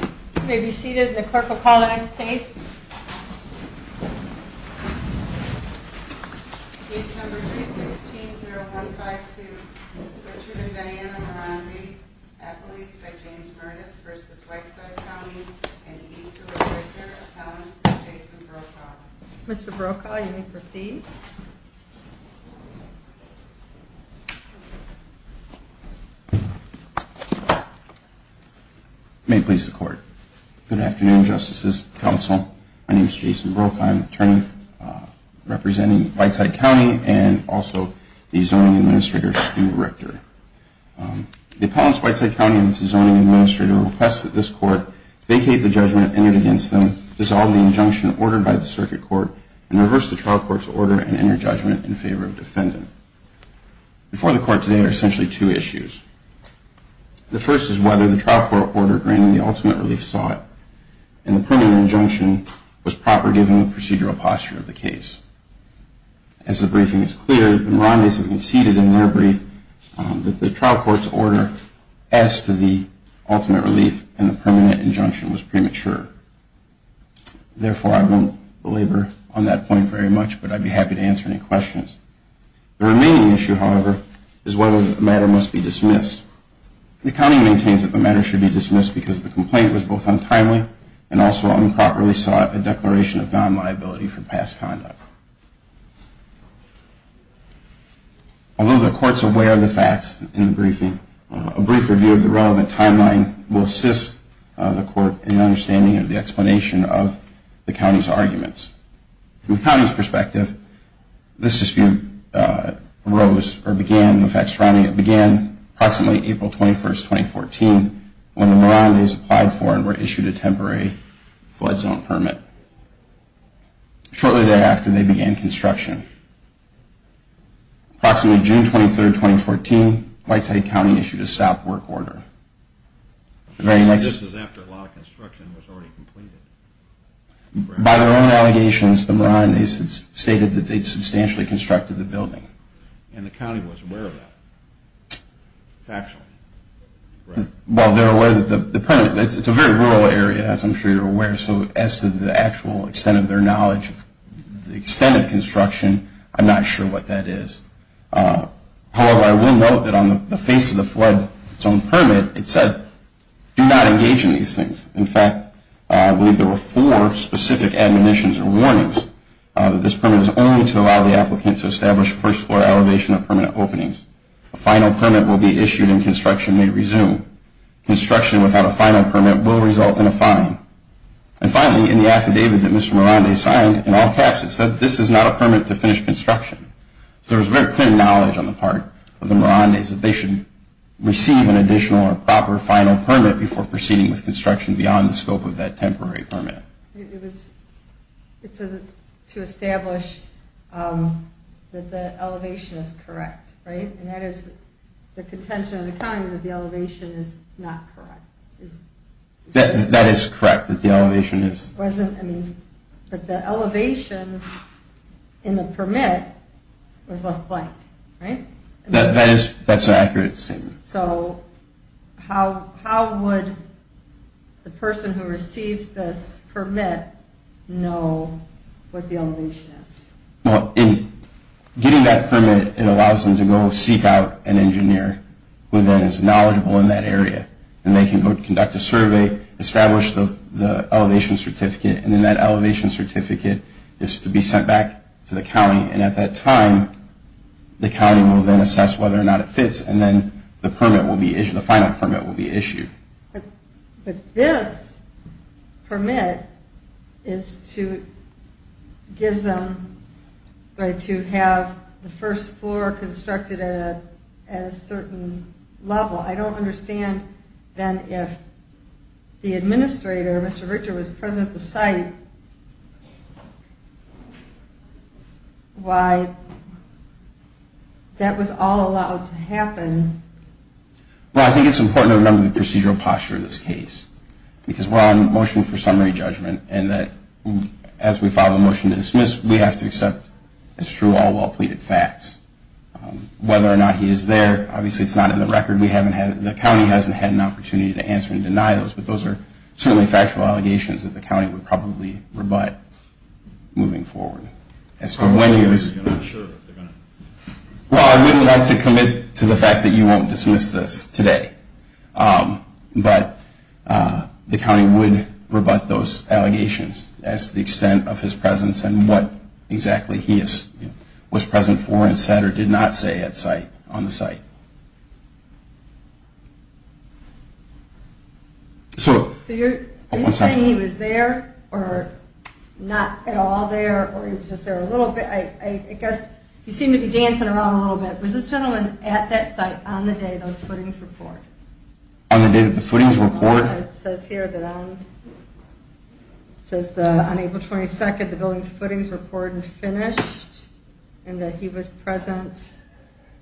You may be seated. The clerk will call the next case. Mr. Brokaw, you may proceed. May it please the Court. Good afternoon, Justices, Counsel. My name is Jason Brokaw. I am an attorney representing Whiteside County and also the Zoning Administrator's School Director. The Appellants Whiteside County and the Zoning Administrator request that this Court vacate the judgment entered against them, dissolve the injunction ordered by the Circuit Court, and reverse the trial court's order and enter judgment in favor of defendant. Before the Court today are essentially two issues. The first is whether the trial court order granting the ultimate relief sought in the preliminary injunction was proper given the procedural posture of the case. As the briefing is clear, the Moronde's have conceded in their brief that the trial court's order as to the ultimate relief in the permanent injunction was premature. Therefore, I won't belabor on that point very much, but I'd be happy to answer any questions. The remaining issue, however, is whether the matter must be dismissed. The County maintains that the matter should be dismissed because the complaint was both untimely and also improperly sought a declaration of non-liability for past conduct. Although the Court is aware of the facts in the briefing, a brief review of the relevant timeline will assist the Court in the understanding of the explanation of the County's arguments. From the County's perspective, this dispute began approximately April 21, 2014, when the Morondes applied for and were issued a temporary flood zone permit. Shortly thereafter, they began construction. Approximately June 23, 2014, Whiteside County issued a stop work order. This is after a lot of construction was already completed. By their own allegations, the Morondes stated that they had substantially constructed the building. And the County was aware of that? Factually? Well, they're aware that the permit, it's a very rural area, as I'm sure you're aware, so as to the actual extent of their knowledge of the extent of construction, I'm not sure what that is. However, I will note that on the face of the flood zone permit, it said, do not engage in these things. In fact, I believe there were four specific admonitions or warnings that this permit is only to allow the applicant to establish first floor elevation or permanent openings. A final permit will be issued and construction may resume. Construction without a final permit will result in a fine. And finally, in the affidavit that Mr. Morondes signed, in all caps, it said this is not a permit to finish construction. So there was very clear knowledge on the part of the Morondes that they should receive an additional or proper final permit before proceeding with construction beyond the scope of that temporary permit. It says it's to establish that the elevation is correct, right? And that is the contention of the County that the elevation is not correct. That is correct, that the elevation is... But the elevation in the permit was left blank, right? That's an accurate statement. So how would the person who receives this permit know what the elevation is? Well, in getting that permit, it allows them to go seek out an engineer who then is knowledgeable in that area. And they can go conduct a survey, establish the elevation certificate, and then that elevation certificate is to be sent back to the County. And at that time, the County will then assess whether or not it fits. And then the permit will be issued, the final permit will be issued. But this permit is to give them, right, to have the first floor constructed at a certain level. I don't understand, then, if the administrator, Mr. Richter, was present at the site, why that was all allowed to happen. Well, I think it's important to remember the procedural posture in this case. Because we're on motion for summary judgment, and that as we file a motion to dismiss, we have to accept as true all well-pleaded facts. Whether or not he is there, obviously it's not in the record. We haven't had, the County hasn't had an opportunity to answer and deny those. But those are certainly factual allegations that the County would probably rebut moving forward. As for when he was... I'm not sure if they're going to... Well, I would like to commit to the fact that you won't dismiss this today. But the County would rebut those allegations as to the extent of his presence and what exactly he was present for and said or did not say on the site. So... Are you saying he was there or not at all there, or he was just there a little bit? I guess he seemed to be dancing around a little bit. Was this gentleman at that site on the day those footings were poured? On the day that the footings were poured? It says here that on April 22nd, the buildings footings were poured and finished and that he was present.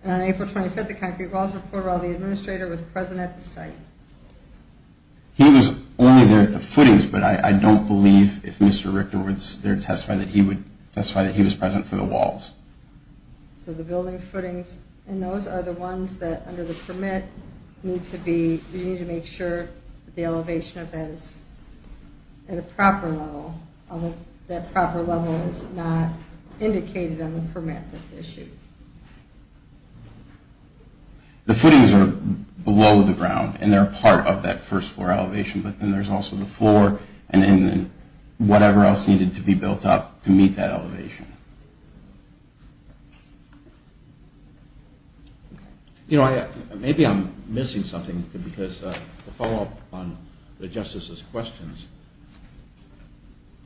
And on April 25th, the concrete walls were poured while the administrator was present at the site. He was only there at the footings, but I don't believe if Mr. Richter was there to testify that he was present for the walls. So the buildings footings and those are the ones that, under the permit, you need to make sure the elevation of that is at a proper level. That proper level is not indicated on the permit that's issued. The footings are below the ground, and they're a part of that first floor elevation, but then there's also the floor and then whatever else needed to be built up to meet that elevation. You know, maybe I'm missing something because the follow-up on the justices' questions,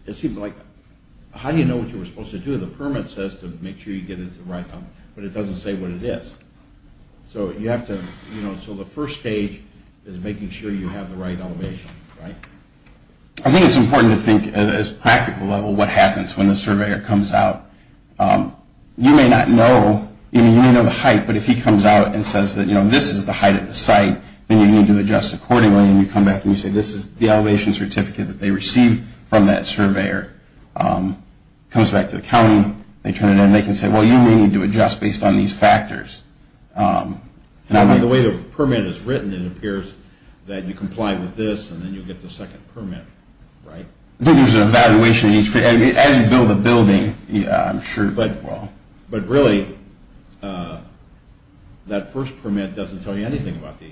it seemed like, how do you know what you were supposed to do? The permit says to make sure you get it to the right level, but it doesn't say what it is. So you have to, you know, so the first stage is making sure you have the right elevation, right? I think it's important to think at a practical level what happens when the surveyor comes out You may not know, you may know the height, but if he comes out and says that, you know, this is the height of the site, then you need to adjust accordingly, and you come back and you say this is the elevation certificate that they received from that surveyor. Comes back to the county, they turn it in, and they can say, well, you may need to adjust based on these factors. The way the permit is written, it appears that you comply with this, and then you get the second permit, right? I think there's an evaluation, as you build a building, I'm sure. But really, that first permit doesn't tell you anything about the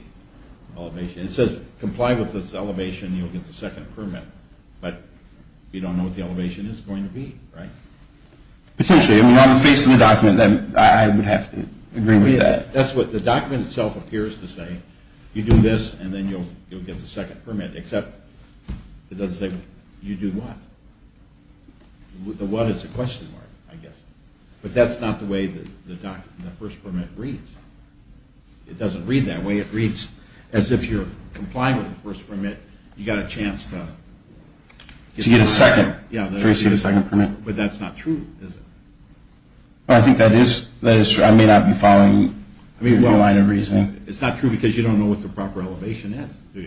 elevation. It says comply with this elevation, you'll get the second permit, but you don't know what the elevation is going to be, right? Potentially. I mean, on the face of the document, I would have to agree with that. That's what the document itself appears to say. You do this, and then you'll get the second permit, except it doesn't say you do what? The what is a question mark, I guess. But that's not the way the first permit reads. It doesn't read that way. It reads as if you're complying with the first permit, you got a chance to get a second permit. But that's not true, is it? I think that is true. I may not be following your line of reasoning. It's not true because you don't know what the proper elevation is.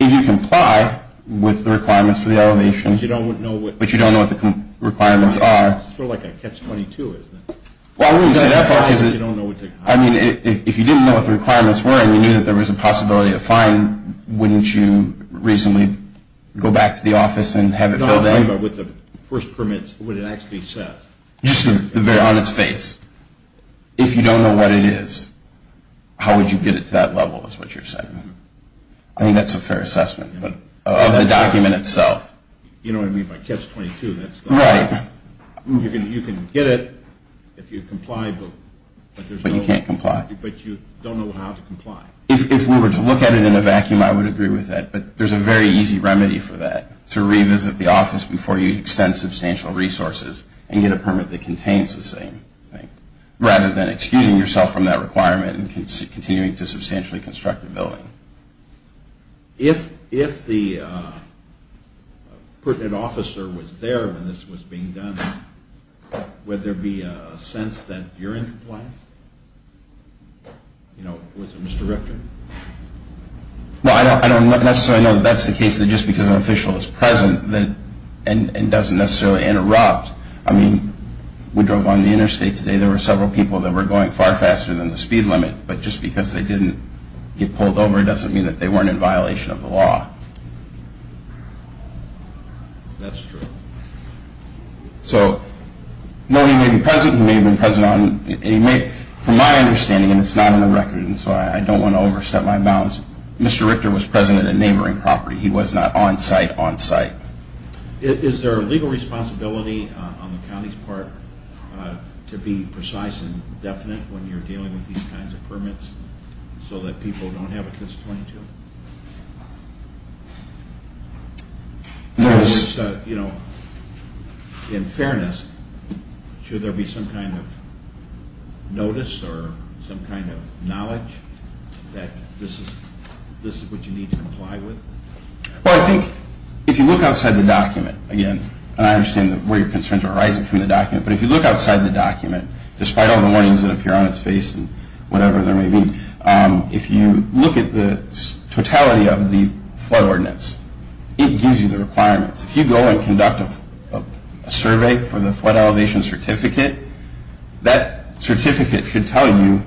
If you comply with the requirements for the elevation, but you don't know what the requirements are. It's sort of like a catch-22, isn't it? Well, I wouldn't say that far. I mean, if you didn't know what the requirements were, and you knew that there was a possibility of a fine, wouldn't you reasonably go back to the office and have it filled in? No, I'm talking about with the first permit, what it actually says. On its face. If you don't know what it is, how would you get it to that level, is what you're saying. I think that's a fair assessment of the document itself. You know what I mean by catch-22. Right. You can get it if you comply, but you can't comply. But you don't know how to comply. If we were to look at it in a vacuum, I would agree with that. But there's a very easy remedy for that, to revisit the office before you extend substantial resources and get a permit that contains the same thing, rather than excusing yourself from that requirement and continuing to substantially construct the building. If the pertinent officer was there when this was being done, would there be a sense that you're in compliance? You know, with Mr. Richter? Well, I don't necessarily know that that's the case, that just because an official is present and doesn't necessarily interrupt. I mean, we drove on the interstate today. There were several people that were going far faster than the speed limit, but just because they didn't get pulled over, it doesn't mean that they weren't in violation of the law. That's true. So, no, he may be present, he may have been present on, from my understanding, and it's not on the record, and so I don't want to overstep my bounds, Mr. Richter was present at a neighboring property. He was not on-site, on-site. Is there a legal responsibility on the county's part to be precise and definite when you're dealing with these kinds of permits so that people don't have a CIS 22? In fairness, should there be some kind of notice or some kind of knowledge that this is what you need to comply with? Well, I think if you look outside the document, again, and I understand where your concerns are arising from the document, but if you look outside the document, despite all the warnings that appear on its face and whatever there may be, if you look at the totality of the flood ordinance, it gives you the requirements. If you go and conduct a survey for the flood elevation certificate, that certificate should tell you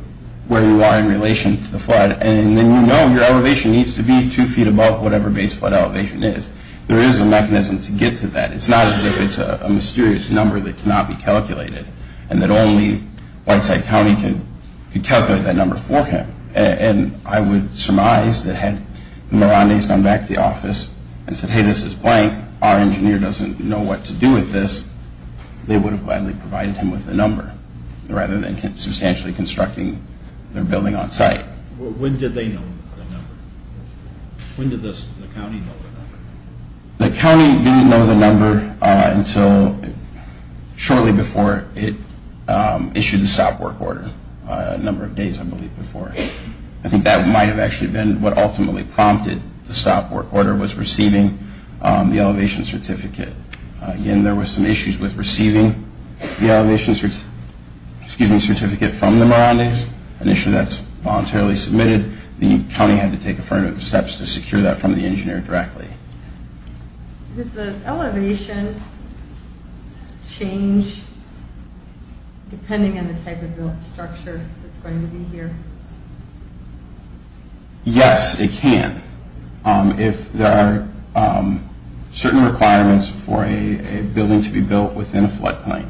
where you are in relation to the flood, and then you know your elevation needs to be two feet above whatever base flood elevation is. There is a mechanism to get to that. It's not as if it's a mysterious number that cannot be calculated and that only Whiteside County could calculate that number for him. And I would surmise that had the Mirandais gone back to the office and said, hey, this is blank, our engineer doesn't know what to do with this, they would have gladly provided him with the number rather than substantially constructing their building on site. When did they know the number? When did the county know the number? The county didn't know the number until shortly before it issued the stop work order, a number of days, I believe, before. I think that might have actually been what ultimately prompted the stop work order was receiving the elevation certificate. Again, there were some issues with receiving the elevation certificate from the Mirandais, an issue that's voluntarily submitted. The county had to take affirmative steps to secure that from the engineer directly. Does the elevation change depending on the type of built structure that's going to be here? Yes, it can. If there are certain requirements for a building to be built within a floodplain,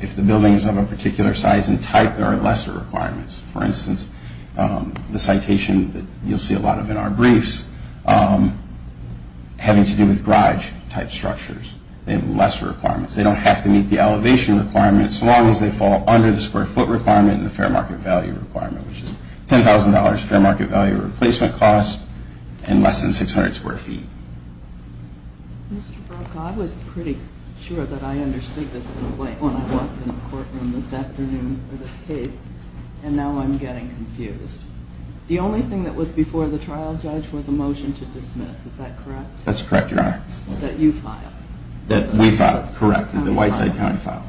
if the building is of a particular size and type, there are lesser requirements. For instance, the citation that you'll see a lot of in our briefs having to do with garage type structures, they have lesser requirements. They don't have to meet the elevation requirements as long as they fall under the square foot requirement and the fair market value requirement, which is $10,000 fair market value replacement cost and less than 600 square feet. Mr. Broca, I was pretty sure that I understood this when I walked in the courtroom this afternoon for this case, and now I'm getting confused. The only thing that was before the trial judge was a motion to dismiss. Is that correct? That's correct, Your Honor. That you filed? That we filed, correct. That the Whiteside County filed.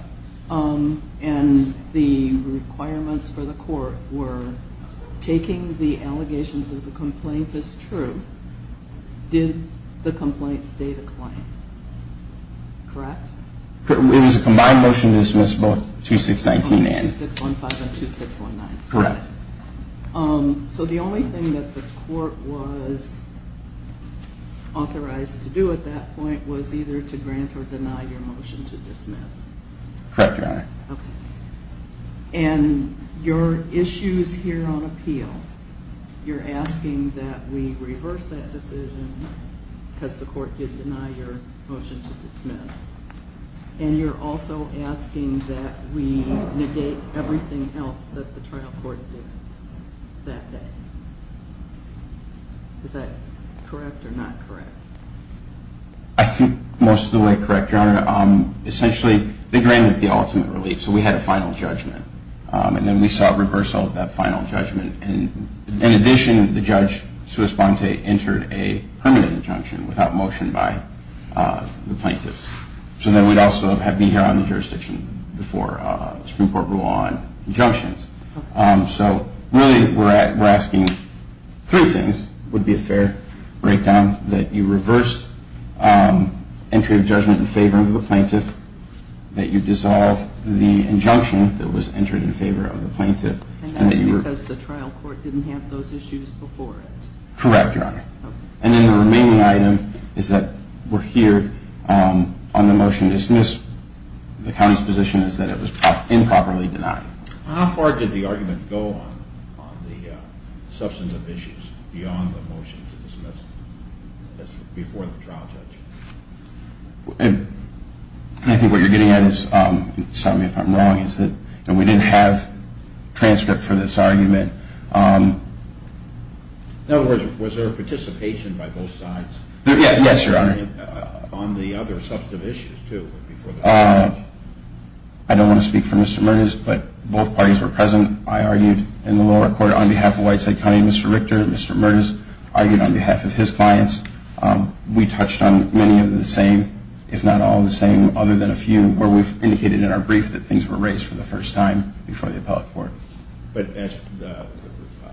And the requirements for the court were taking the allegations of the complaint as true. Did the complaint state a claim? Correct? It was a combined motion to dismiss both 2619 and 2615 and 2619. Correct. So the only thing that the court was authorized to do at that point was either to grant or deny your motion to dismiss? Correct, Your Honor. Okay. And your issues here on appeal, you're asking that we reverse that decision because the court did deny your motion to dismiss. And you're also asking that we negate everything else that the trial court did that day. Is that correct or not correct? I think most of the way correct, Your Honor. Essentially, they granted the ultimate relief, so we had a final judgment. And then we saw a reversal of that final judgment. In addition, the judge, Suess-Bonte, entered a permanent injunction without motion by the plaintiff. So then we'd also be here on the jurisdiction before the Supreme Court rule on injunctions. So really we're asking three things. It would be a fair breakdown that you reverse entry of judgment in favor of the plaintiff, that you dissolve the injunction that was entered in favor of the plaintiff. And that's because the trial court didn't have those issues before it? Correct, Your Honor. And then the remaining item is that we're here on the motion to dismiss. The county's position is that it was improperly denied. How far did the argument go on the substantive issues beyond the motion to dismiss before the trial judge? I think what you're getting at is, sorry if I'm wrong, is that we didn't have transcript for this argument. In other words, was there a participation by both sides? Yes, Your Honor. On the other substantive issues too before the trial judge? I don't want to speak for Mr. Mertens, but both parties were present. I argued in the lower court on behalf of Whiteside County, Mr. Richter, and Mr. Mertens argued on behalf of his clients. We touched on many of the same, if not all of the same, other than a few, where we've indicated in our brief that things were raised for the first time before the appellate court. But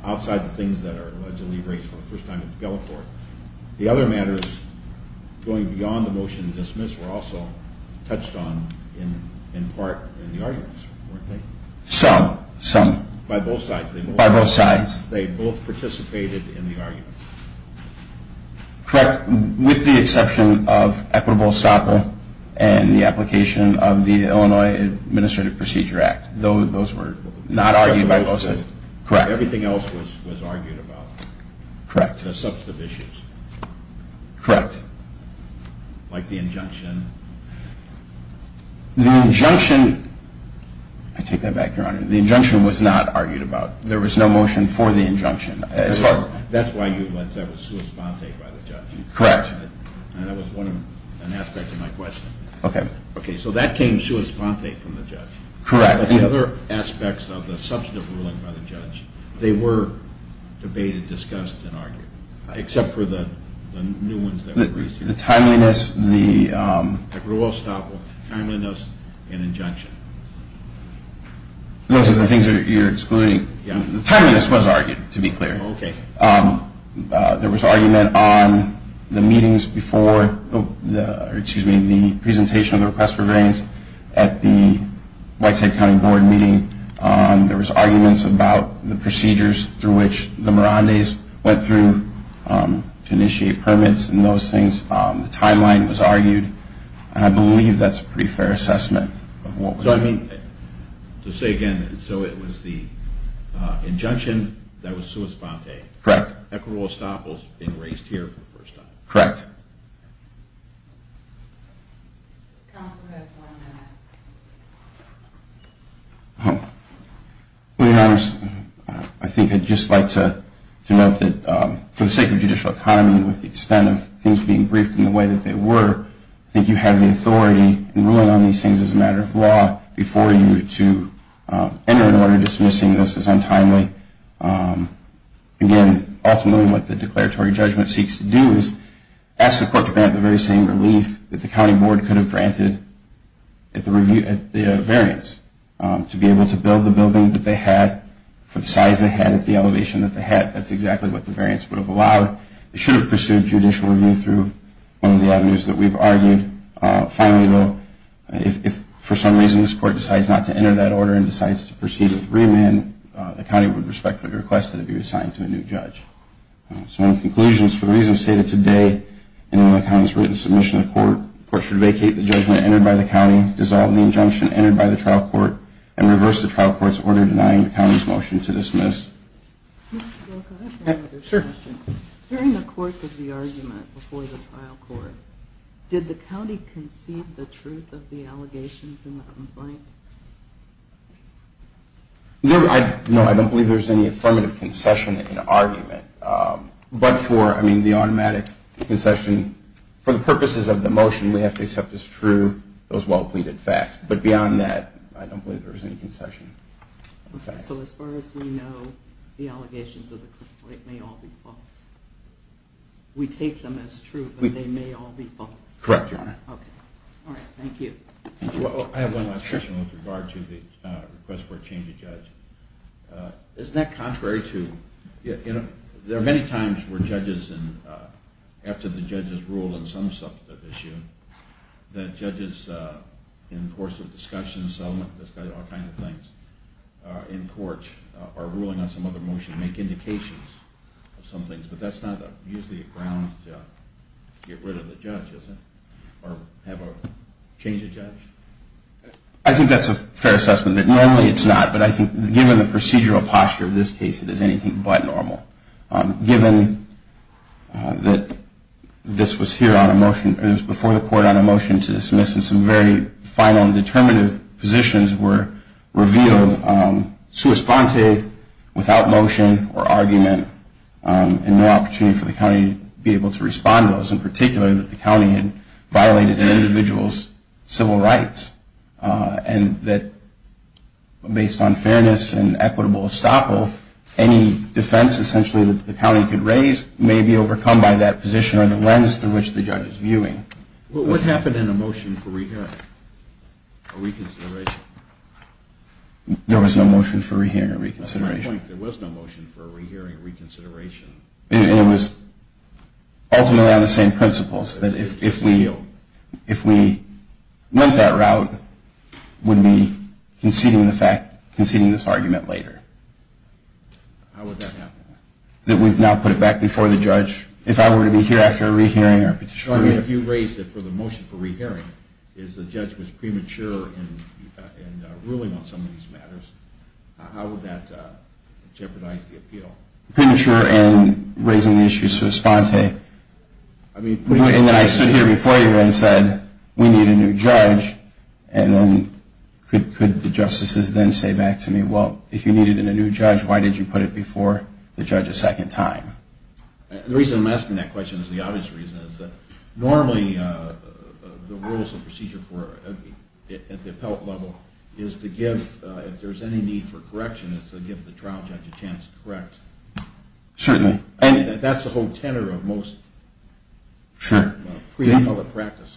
outside the things that are allegedly raised for the first time at the appellate court, the other matters going beyond the motion to dismiss were also touched on in part in the arguments, weren't they? Some, some. By both sides? By both sides. They both participated in the arguments? Correct. With the exception of equitable estoppel and the application of the Illinois Administrative Procedure Act. Those were not argued by both sides. Correct. Everything else was argued about? Correct. The substantive issues? Correct. Like the injunction? The injunction, I take that back, Your Honor, the injunction was not argued about. There was no motion for the injunction. That's why you said it was sua sponte by the judge. Correct. That was one aspect of my question. Okay. So that came sua sponte from the judge. Correct. But the other aspects of the substantive ruling by the judge, they were debated, discussed, and argued. Except for the new ones that were raised. The timeliness. The rule of estoppel, timeliness, and injunction. Those are the things that you're explaining. The timeliness was argued, to be clear. Okay. There was argument on the meetings before the presentation of the request for grantees at the Whitehead County Board meeting. There was arguments about the procedures through which the Mirandes went through to initiate permits and those things. The timeline was argued, and I believe that's a pretty fair assessment of what was done. So, I mean, to say again, so it was the injunction that was sua sponte. Correct. Equal rule of estoppel is being raised here for the first time. Correct. Well, Your Honors, I think I'd just like to note that for the sake of judicial autonomy, with the extent of things being briefed in the way that they were, I think you have the authority in ruling on these things as a matter of law before you to enter an order dismissing this as untimely. Again, ultimately what the declaratory judgment seeks to do is ask the court to grant the very same relief that the county board could have granted at the variance, to be able to build the building that they had for the size they had at the elevation that they had. That's exactly what the variance would have allowed. It should have pursued judicial review through one of the avenues that we've argued. Finally, though, if for some reason this court decides not to enter that order and decides to proceed with remand, the county would respectfully request that it be assigned to a new judge. So, in conclusion, for the reasons stated today and in the county's written submission to court, the court should vacate the judgment entered by the county, dissolve the injunction entered by the trial court, and reverse the trial court's order denying the county's motion to dismiss. Sure. During the course of the argument before the trial court, did the county concede the truth of the allegations in the complaint? No, I don't believe there's any affirmative concession in the argument. But for, I mean, the automatic concession, for the purposes of the motion, we have to accept as true those well-pleaded facts. But beyond that, I don't believe there was any concession. So as far as we know, the allegations of the complaint may all be false. We take them as true, but they may all be false. Correct, Your Honor. Okay. All right, thank you. I have one last question with regard to the request for a change of judge. Isn't that contrary to, you know, there are many times where judges, after the judge has ruled on some substantive issue, that judges, in the course of discussion and settlement, discuss all kinds of things in court, are ruling on some other motion, make indications of some things. But that's not usually a ground to get rid of the judge, is it, or have a change of judge? I think that's a fair assessment. Normally it's not, but I think given the procedural posture of this case, it is anything but normal. Given that this was here on a motion, it was before the court on a motion to dismiss, and some very final and determinative positions were revealed, sua sponte, without motion or argument, and no opportunity for the county to be able to respond to those, in particular that the county had violated an individual's civil rights, and that based on fairness and equitable estoppel, any defense essentially that the county could raise may be overcome by that position or the lens through which the judge is viewing. What happened in a motion for re-hearing or reconsideration? There was no motion for re-hearing or reconsideration. That's my point. There was no motion for re-hearing or reconsideration. And it was ultimately on the same principles, that if we went that route, we'd be conceding this argument later. How would that happen? That we'd now put it back before the judge. If I were to be here after a re-hearing or a petition… So if you raised it for the motion for re-hearing, if the judge was premature in ruling on some of these matters, how would that jeopardize the appeal? Premature in raising the issue, so to speak. And then I stood here before you and said, we need a new judge, and then could the justices then say back to me, well, if you needed a new judge, why did you put it before the judge a second time? The reason I'm asking that question is the obvious reason, is that normally the rules of procedure at the appellate level is to give, if there's any need for correction, it's to give the trial judge a chance to correct. Certainly. That's the whole tenor of most pre-appellate practice.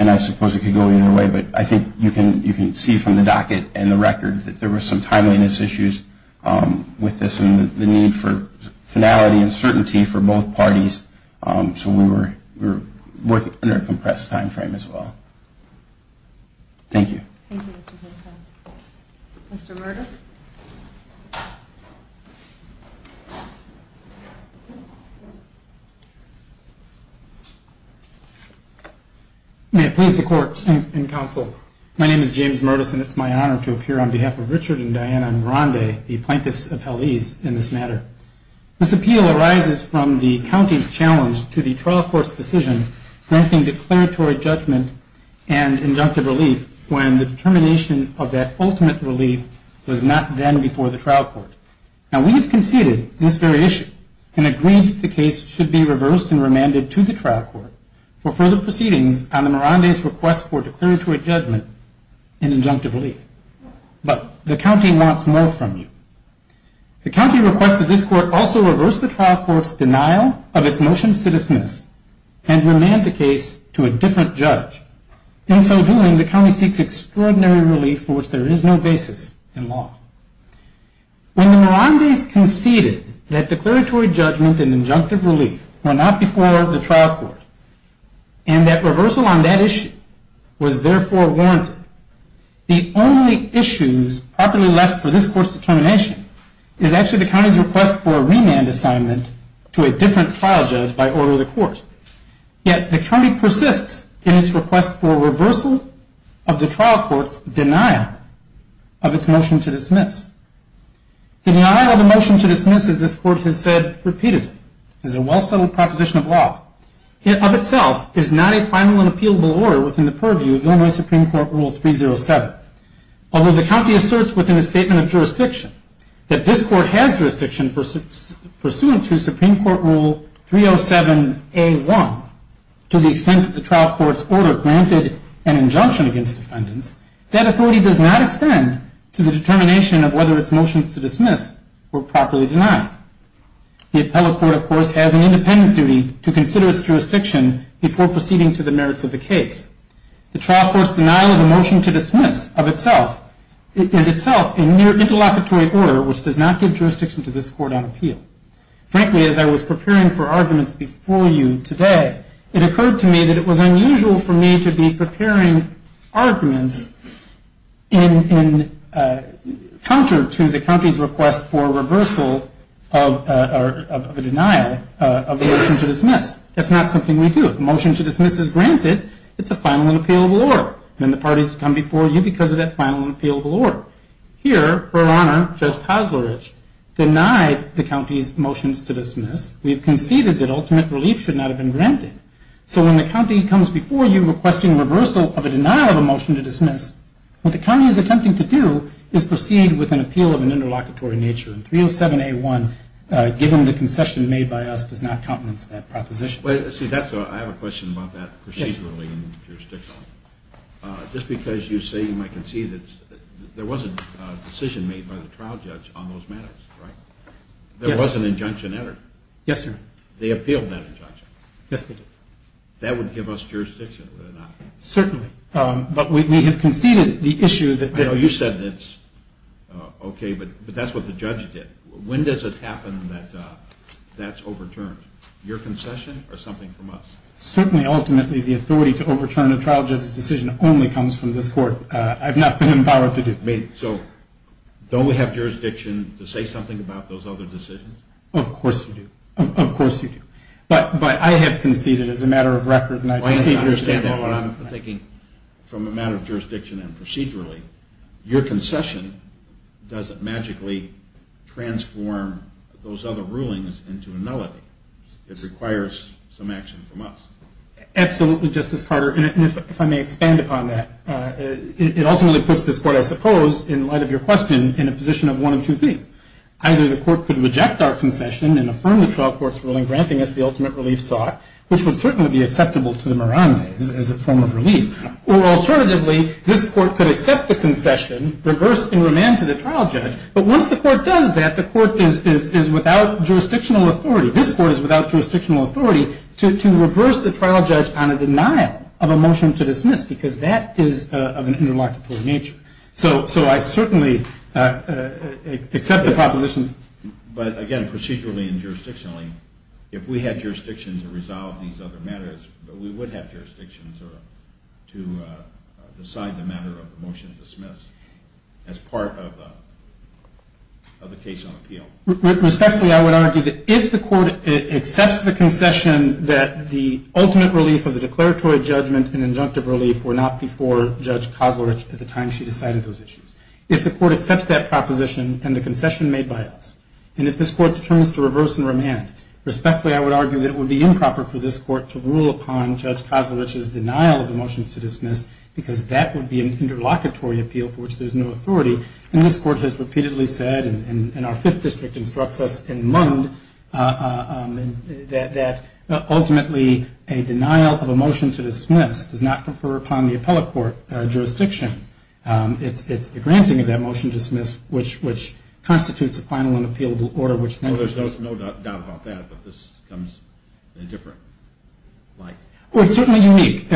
And I suppose it could go either way, but I think you can see from the docket and the record that there were some timeliness issues with this and the need for finality and certainty for both parties. So we were working under a compressed time frame as well. Thank you. Mr. Murtis. May it please the Court and counsel, my name is James Murtis, and it's my honor to appear on behalf of Richard and Diana Morande, the plaintiffs' appellees in this matter. This appeal arises from the county's challenge to the trial court's decision granting declaratory judgment and injunctive relief when the determination of that ultimate relief was not then before the trial court. Now, we have conceded this very issue and agreed that the case should be reversed and remanded to the trial court for further proceedings on the Mirandes' request for declaratory judgment and injunctive relief. But the county wants more from you. The county requests that this court also reverse the trial court's denial of its motions to dismiss and remand the case to a different judge. In so doing, the county seeks extraordinary relief for which there is no basis in law. When the Mirandes conceded that declaratory judgment and injunctive relief were not before the trial court and that reversal on that issue was therefore warranted, the only issues properly left for this court's determination is actually the county's request for a remand assignment to a different trial judge by order of the court. Yet the county persists in its request for reversal of the trial court's denial of its motion to dismiss. The denial of the motion to dismiss, as this court has said repeatedly, is a well-settled proposition of law. It, of itself, is not a final and appealable order within the purview of Illinois Supreme Court Rule 307. Although the county asserts within its statement of jurisdiction that this court has jurisdiction pursuant to Supreme Court Rule 307A1, to the extent that the trial court's order granted an injunction against defendants, that authority does not extend to the determination of whether its motions to dismiss were properly denied. The appellate court, of course, has an independent duty to consider its jurisdiction before proceeding to the merits of the case. The trial court's denial of the motion to dismiss, of itself, is itself an interlocutory order which does not give jurisdiction to this court on appeal. Frankly, as I was preparing for arguments before you today, it occurred to me that it was unusual for me to be preparing arguments in counter to the county's request for reversal of a denial of the motion to dismiss. That's not something we do. If a motion to dismiss is granted, it's a final and appealable order. Then the parties come before you because of that final and appealable order. Here, Her Honor, Judge Koslarich, denied the county's motions to dismiss. We have conceded that ultimate relief should not have been granted. So when the county comes before you requesting reversal of a denial of a motion to dismiss, what the county is attempting to do is proceed with an appeal of an interlocutory nature. And 307A1, given the concession made by us, does not countenance that proposition. See, I have a question about that procedurally and jurisdictionally. Just because you say you might concede that there was a decision made by the trial judge on those matters, right? There was an injunction entered. Yes, sir. They appealed that injunction. Yes, they did. That would give us jurisdiction, would it not? Certainly. But we may have conceded the issue that they're I know you said it's okay, but that's what the judge did. When does it happen that that's overturned? Your concession or something from us? Certainly, ultimately, the authority to overturn a trial judge's decision only comes from this court. I've not been empowered to do that. So don't we have jurisdiction to say something about those other decisions? Of course you do. Of course you do. But I have conceded as a matter of record. Well, I understand what I'm thinking. From a matter of jurisdiction and procedurally, your concession doesn't magically transform those other rulings into a nullity. It requires some action from us. Absolutely, Justice Carter. And if I may expand upon that, it ultimately puts this court, I suppose, in light of your question, in a position of one of two things. Either the court could reject our concession and affirm the trial court's ruling, granting us the ultimate relief sought, which would certainly be acceptable to the Marandes as a form of relief. Or alternatively, this court could accept the concession, reverse and remand to the trial judge. But once the court does that, the court is without jurisdictional authority. This court is without jurisdictional authority to reverse the trial judge on a denial of a motion to dismiss because that is of an interlocutory nature. So I certainly accept the proposition. But, again, procedurally and jurisdictionally, if we had jurisdiction to resolve these other matters, we would have jurisdictions to decide the matter of the motion to dismiss as part of the case on appeal. Respectfully, I would argue that if the court accepts the concession that the ultimate relief of the declaratory judgment and injunctive relief were not before Judge Kosler at the time she decided those issues, if the court accepts that proposition and the concession made by us, Respectfully, I would argue that it would be improper for this court to rule upon Judge Kosler's denial of the motions to dismiss because that would be an interlocutory appeal for which there's no authority. And this court has repeatedly said, and our Fifth District instructs us in MUND, that ultimately a denial of a motion to dismiss does not confer upon the appellate court jurisdiction. It's the granting of that motion to dismiss, which constitutes a final and appealable order, which then There's no doubt about that, but this comes in a different light. Well, it's certainly unique,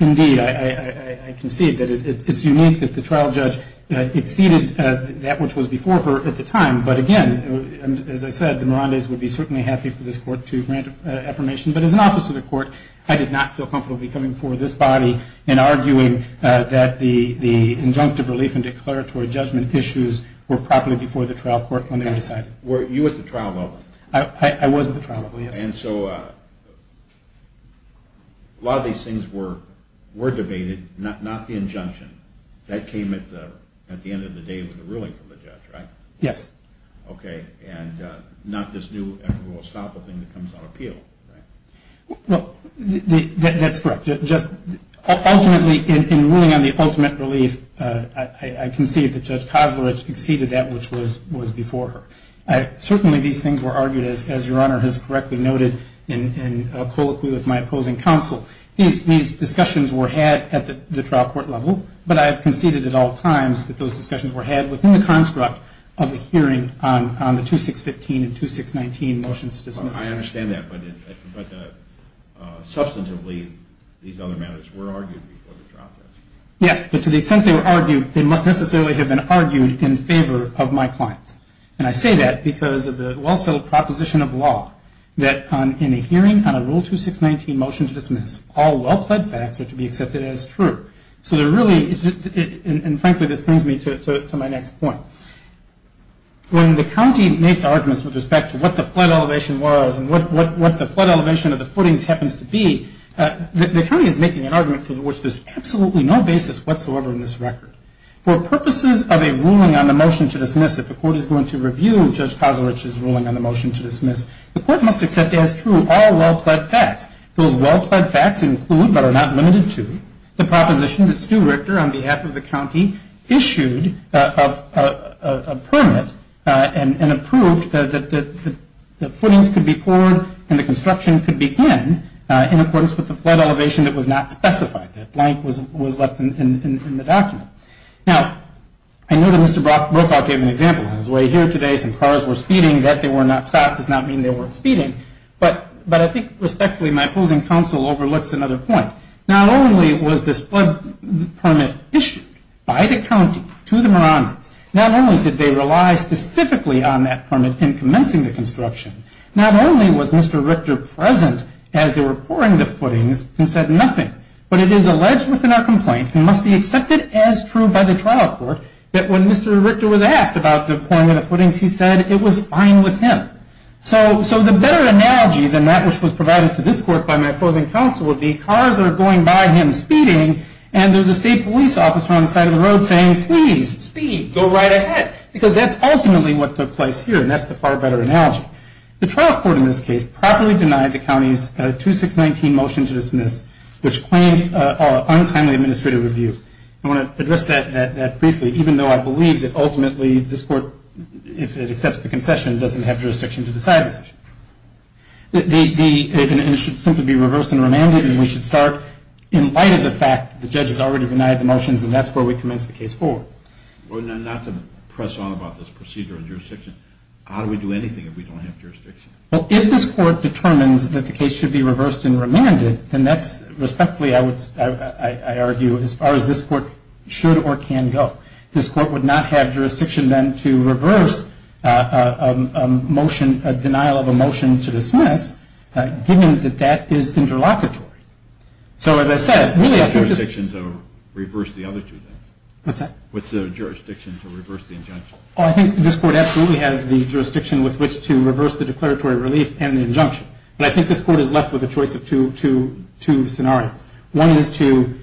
indeed. I concede that it's unique that the trial judge exceeded that which was before her at the time. But, again, as I said, the Mirandes would be certainly happy for this court to grant an affirmation. But as an officer of the court, I did not feel comfortable coming before this body and arguing that the injunctive relief and declaratory judgment issues were properly before the trial court when they were decided. Were you at the trial level? I was at the trial level, yes. And so a lot of these things were debated, not the injunction. That came at the end of the day with the ruling from the judge, right? Yes. Okay. And not this new, we'll stop the thing that comes on appeal, right? Well, that's correct. Ultimately, in ruling on the ultimate relief, I concede that Judge Koslarich exceeded that which was before her. Certainly, these things were argued, as Your Honor has correctly noted, in colloquy with my opposing counsel. These discussions were had at the trial court level, but I have conceded at all times that those discussions were had within the construct of a hearing on the 2615 and 2619 motions dismissed. I understand that, but substantively, these other matters were argued before the trial court. Yes, but to the extent they were argued, they must necessarily have been argued in favor of my clients. And I say that because of the well-settled proposition of law that in a hearing on a Rule 2619 motion to dismiss, all well-pled facts are to be accepted as true. So there really is, and frankly, this brings me to my next point. When the county makes arguments with respect to what the flood elevation was and what the flood elevation of the footings happens to be, the county is making an argument for which there's absolutely no basis whatsoever in this record. For purposes of a ruling on the motion to dismiss, if the court is going to review Judge Koslarich's ruling on the motion to dismiss, the court must accept as true all well-pled facts. Those well-pled facts include, but are not limited to, the proposition that Stu Richter, on behalf of the county, issued a permit and approved that the footings could be poured and the construction could begin in accordance with the flood elevation that was not specified. That blank was left in the document. Now, I know that Mr. Brokaw gave an example on his way here today. Some cars were speeding. That they were not stopped does not mean they weren't speeding. But I think, respectfully, my opposing counsel overlooks another point. Not only was this flood permit issued by the county to the Muromans, not only did they rely specifically on that permit in commencing the construction, not only was Mr. Richter present as they were pouring the footings and said nothing, but it is alleged within our complaint and must be accepted as true by the trial court that when Mr. Richter was asked about the pouring of the footings, he said it was fine with him. So the better analogy than that which was provided to this court by my opposing counsel would be cars are going by him speeding and there's a state police officer on the side of the road saying, please, speed, go right ahead. Because that's ultimately what took place here, and that's the far better analogy. The trial court in this case properly denied the county's 2619 motion to dismiss, which claimed untimely administrative review. I want to address that briefly, even though I believe that ultimately this court, if it accepts the concession, doesn't have jurisdiction to decide this. It should simply be reversed and remanded, and we should start in light of the fact that the judge has already denied the motions, and that's where we commence the case forward. Not to press on about this procedure of jurisdiction, how do we do anything if we don't have jurisdiction? Well, if this court determines that the case should be reversed and remanded, then that's respectfully, I argue, as far as this court should or can go. This court would not have jurisdiction then to reverse a motion, a denial of a motion to dismiss, given that that is interlocutory. So, as I said, really I think just – What's the jurisdiction to reverse the other two things? What's that? What's the jurisdiction to reverse the injunction? Well, I think this court absolutely has the jurisdiction with which to reverse the declaratory relief and the injunction, but I think this court is left with a choice of two scenarios. One is to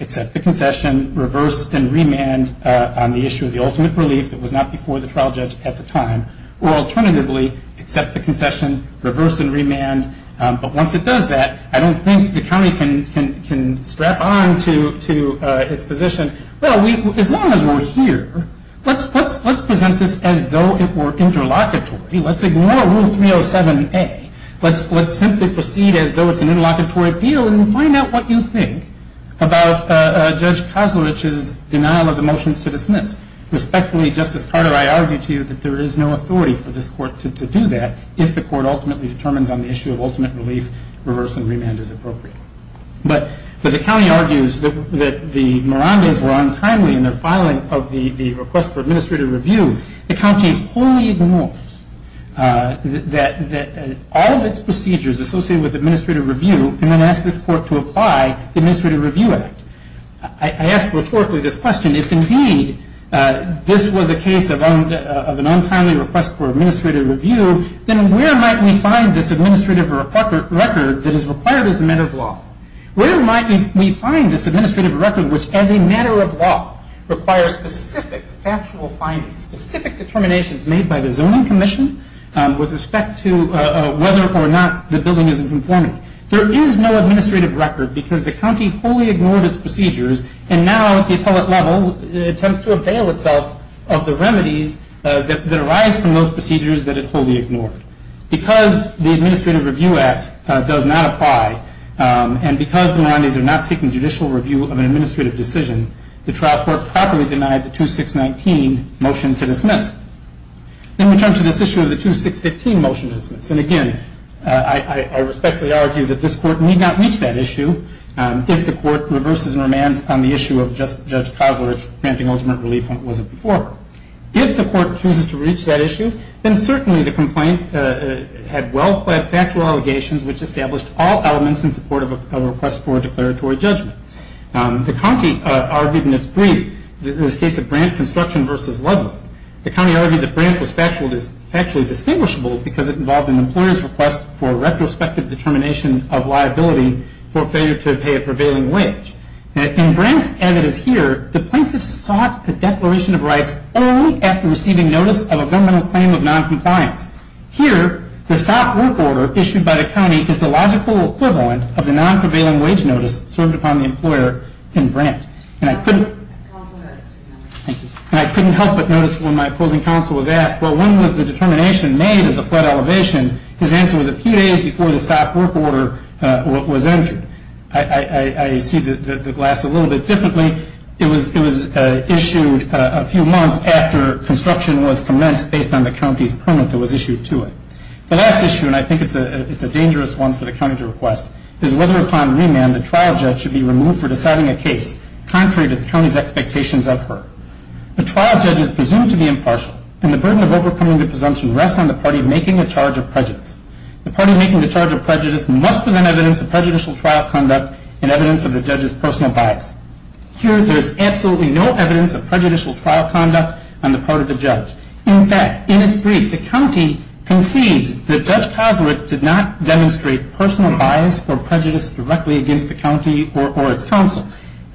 accept the concession, reverse and remand on the issue of the ultimate relief that was not before the trial judge at the time, or alternatively, accept the concession, reverse and remand. But once it does that, I don't think the county can strap on to its position. Well, as long as we're here, let's present this as though it were interlocutory. Let's ignore Rule 307A. Let's simply proceed as though it's an interlocutory appeal and find out what you think about Judge Kozlovich's denial of the motions to dismiss. Respectfully, Justice Carter, I argue to you that there is no authority for this court to do that if the court ultimately determines on the issue of ultimate relief, reverse and remand is appropriate. But the county argues that the Mirandas were untimely in their filing of the request for administrative review. The county wholly ignores all of its procedures associated with administrative review and then asks this court to apply the Administrative Review Act. I ask rhetorically this question. If, indeed, this was a case of an untimely request for administrative review, then where might we find this administrative record that is required as a matter of law? Where might we find this administrative record which, as a matter of law, requires specific factual findings, specific determinations made by the zoning commission with respect to whether or not the building is in conformity? There is no administrative record because the county wholly ignored its procedures and now at the appellate level attempts to avail itself of the remedies that arise from those procedures that it wholly ignored. Because the Administrative Review Act does not apply and because the Mirandas are not seeking judicial review of an administrative decision, the trial court properly denied the 2619 motion to dismiss. In return to this issue of the 2615 motion to dismiss, and again I respectfully argue that this court need not reach that issue if the court reverses and remands on the issue of Judge Cosler granting ultimate relief when it wasn't before. If the court chooses to reach that issue, then certainly the complaint had well-planned factual allegations which established all elements in support of a request for a declaratory judgment. The county argued in its brief, in this case of Brant Construction v. Ludlow, the county argued that Brant was factually distinguishable because it involved an employer's request for a retrospective determination of liability for failure to pay a prevailing wage. In Brant, as it is here, the plaintiffs sought a declaration of rights only after receiving notice of a governmental claim of non-compliance. Here, the stop work order issued by the county is the logical equivalent of the non-prevailing wage notice served upon the employer in Brant. And I couldn't help but notice when my opposing counsel was asked, well, when was the determination made of the flood elevation? His answer was a few days before the stop work order was entered. I see the glass a little bit differently. It was issued a few months after construction was commenced based on the county's permit that was issued to it. The last issue, and I think it's a dangerous one for the county to request, is whether upon remand the trial judge should be removed for deciding a case contrary to the county's expectations of her. The trial judge is presumed to be impartial, and the burden of overcoming the presumption rests on the party making the charge of prejudice. The party making the charge of prejudice must present evidence of prejudicial trial conduct and evidence of the judge's personal bias. Here, there is absolutely no evidence of prejudicial trial conduct on the part of the judge. In fact, in its brief, the county concedes that Judge Koslick did not demonstrate personal bias or prejudice directly against the county or its counsel.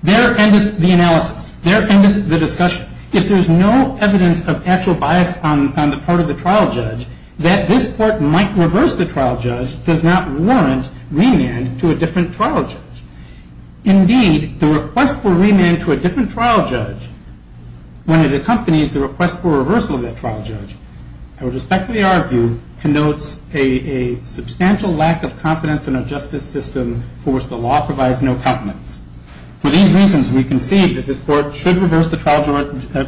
There endeth the analysis. There endeth the discussion. If there is no evidence of actual bias on the part of the trial judge, that this court might reverse the trial judge does not warrant remand to a different trial judge. Indeed, the request for remand to a different trial judge, when it accompanies the request for reversal of that trial judge, I would respectfully argue, connotes a substantial lack of confidence in our justice system for which the law provides no confidence. For these reasons, we concede that this court should reverse the trial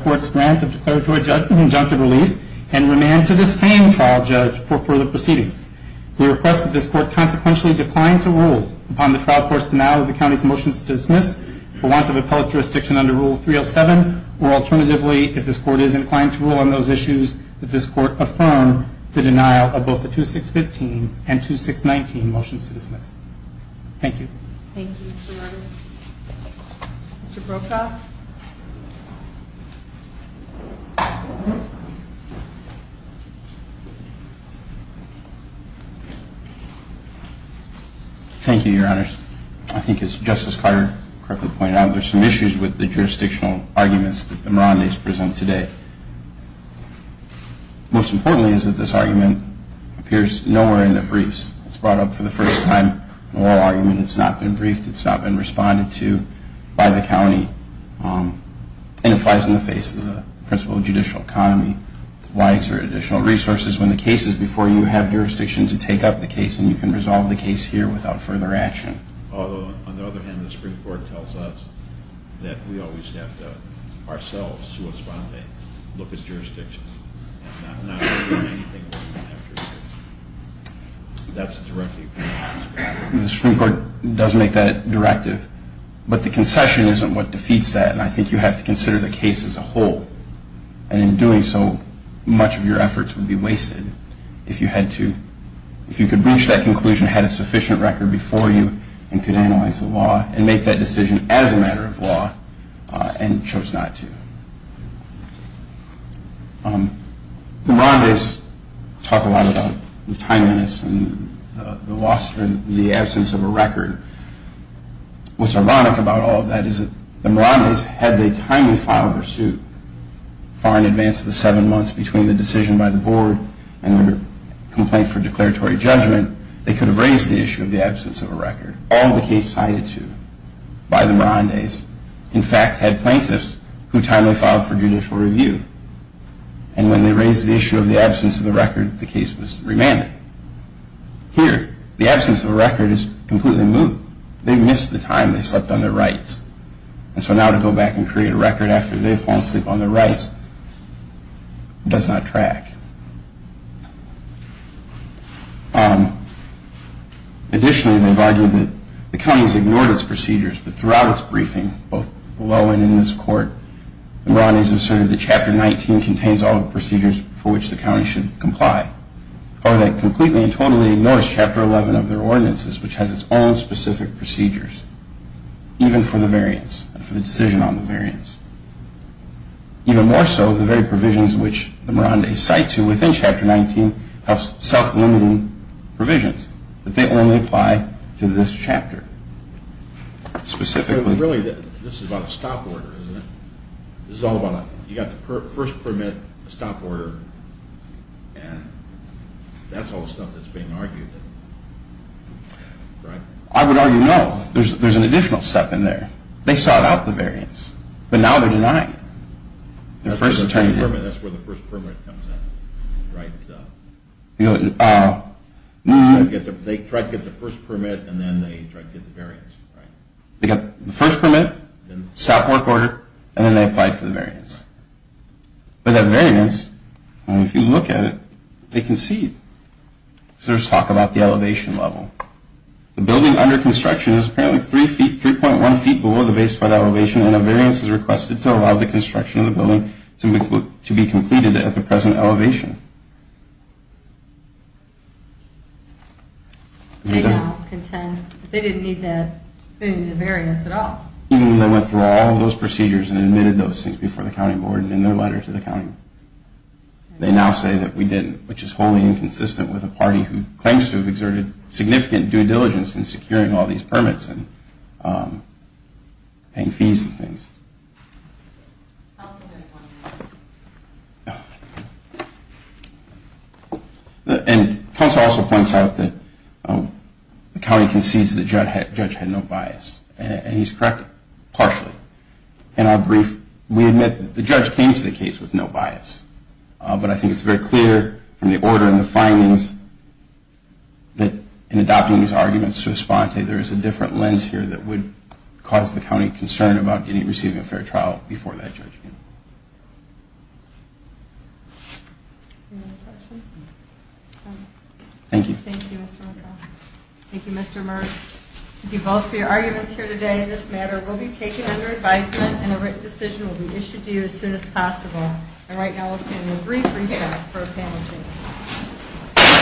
court's grant of declaratory injunctive relief and remand to the same trial judge for further proceedings. We request that this court consequentially decline to rule upon the trial court's denial of the county's motions to dismiss for want of appellate jurisdiction under Rule 307, or alternatively, if this court is inclined to rule on those issues, that this court affirm the denial of both the 2615 and 2619 motions to dismiss. Thank you. Thank you, Mr. Rogers. Mr. Brokaw? Thank you, Your Honors. I think, as Justice Carter correctly pointed out, there are some issues with the jurisdictional arguments that the Mirandes present today. Most importantly is that this argument appears nowhere in the briefs. It's brought up for the first time in a law argument. It's not been briefed. It's not been responded to by the county. And it flies in the face of the principle of judicial economy. Why exert additional resources when the case is before you? I think you have jurisdiction to take up the case, and you can resolve the case here without further action. Although, on the other hand, the Supreme Court tells us that we always have to, ourselves, to respond to it, look at jurisdiction. Not to do anything when we don't have jurisdiction. That's a directive from the Supreme Court. The Supreme Court does make that directive, but the concession isn't what defeats that, and I think you have to consider the case as a whole. And in doing so, much of your efforts would be wasted if you had to, if you could reach that conclusion, had a sufficient record before you, and could analyze the law, and make that decision as a matter of law, and chose not to. The Mirandes talk a lot about the timeliness and the loss in the absence of a record. What's ironic about all of that is that the Mirandes, had they timely filed their suit, far in advance of the seven months between the decision by the board and their complaint for declaratory judgment, they could have raised the issue of the absence of a record. All the case cited to by the Mirandes, in fact, had plaintiffs who timely filed for judicial review. And when they raised the issue of the absence of the record, the case was remanded. Here, the absence of a record is completely moot. They missed the time they slept on their rights. And so now to go back and create a record after they've fallen asleep on their rights does not track. Additionally, they've argued that the county has ignored its procedures, but throughout its briefing, both below and in this court, the Mirandes have asserted that Chapter 19 contains all the procedures for which the county should comply. Or that completely and totally ignores Chapter 11 of their ordinances, which has its own specific procedures, even for the variance, for the decision on the variance. Even more so, the very provisions which the Mirandes cite to within Chapter 19 have self-limiting provisions that they only apply to this chapter. Specifically? I would argue no. There's an additional step in there. They sought out the variance, but now they're denying it. They got the first permit, stop work order, and then they applied for the variance. But that variance, if you look at it, they concede. There's talk about the elevation level. The building under construction is apparently 3.1 feet below the base flood elevation, and a variance is requested to allow the construction of the building to be completed at the present elevation. They now contend they didn't need the variance at all. Even though they went through all of those procedures and admitted those things before the county board and in their letter to the county, they now say that we didn't, which is wholly inconsistent with a party who claims to have exerted significant due diligence in securing all these permits and paying fees and things. Counsel has one more. Counsel also points out that the county concedes that the judge had no bias, and he's correct partially. In our brief, we admit that the judge came to the case with no bias, but I think it's very clear from the order and the findings that in adopting these arguments to respond to, there is a different lens here that would cause the county concern about getting, receiving a fair trial before that judgment. Thank you. Thank you, Mr. Murth. Thank you, Mr. Murth. Thank you both for your arguments here today. This matter will be taken under advisement, and a written decision will be issued to you as soon as possible. And right now, we'll stay in the brief recess for a panel discussion.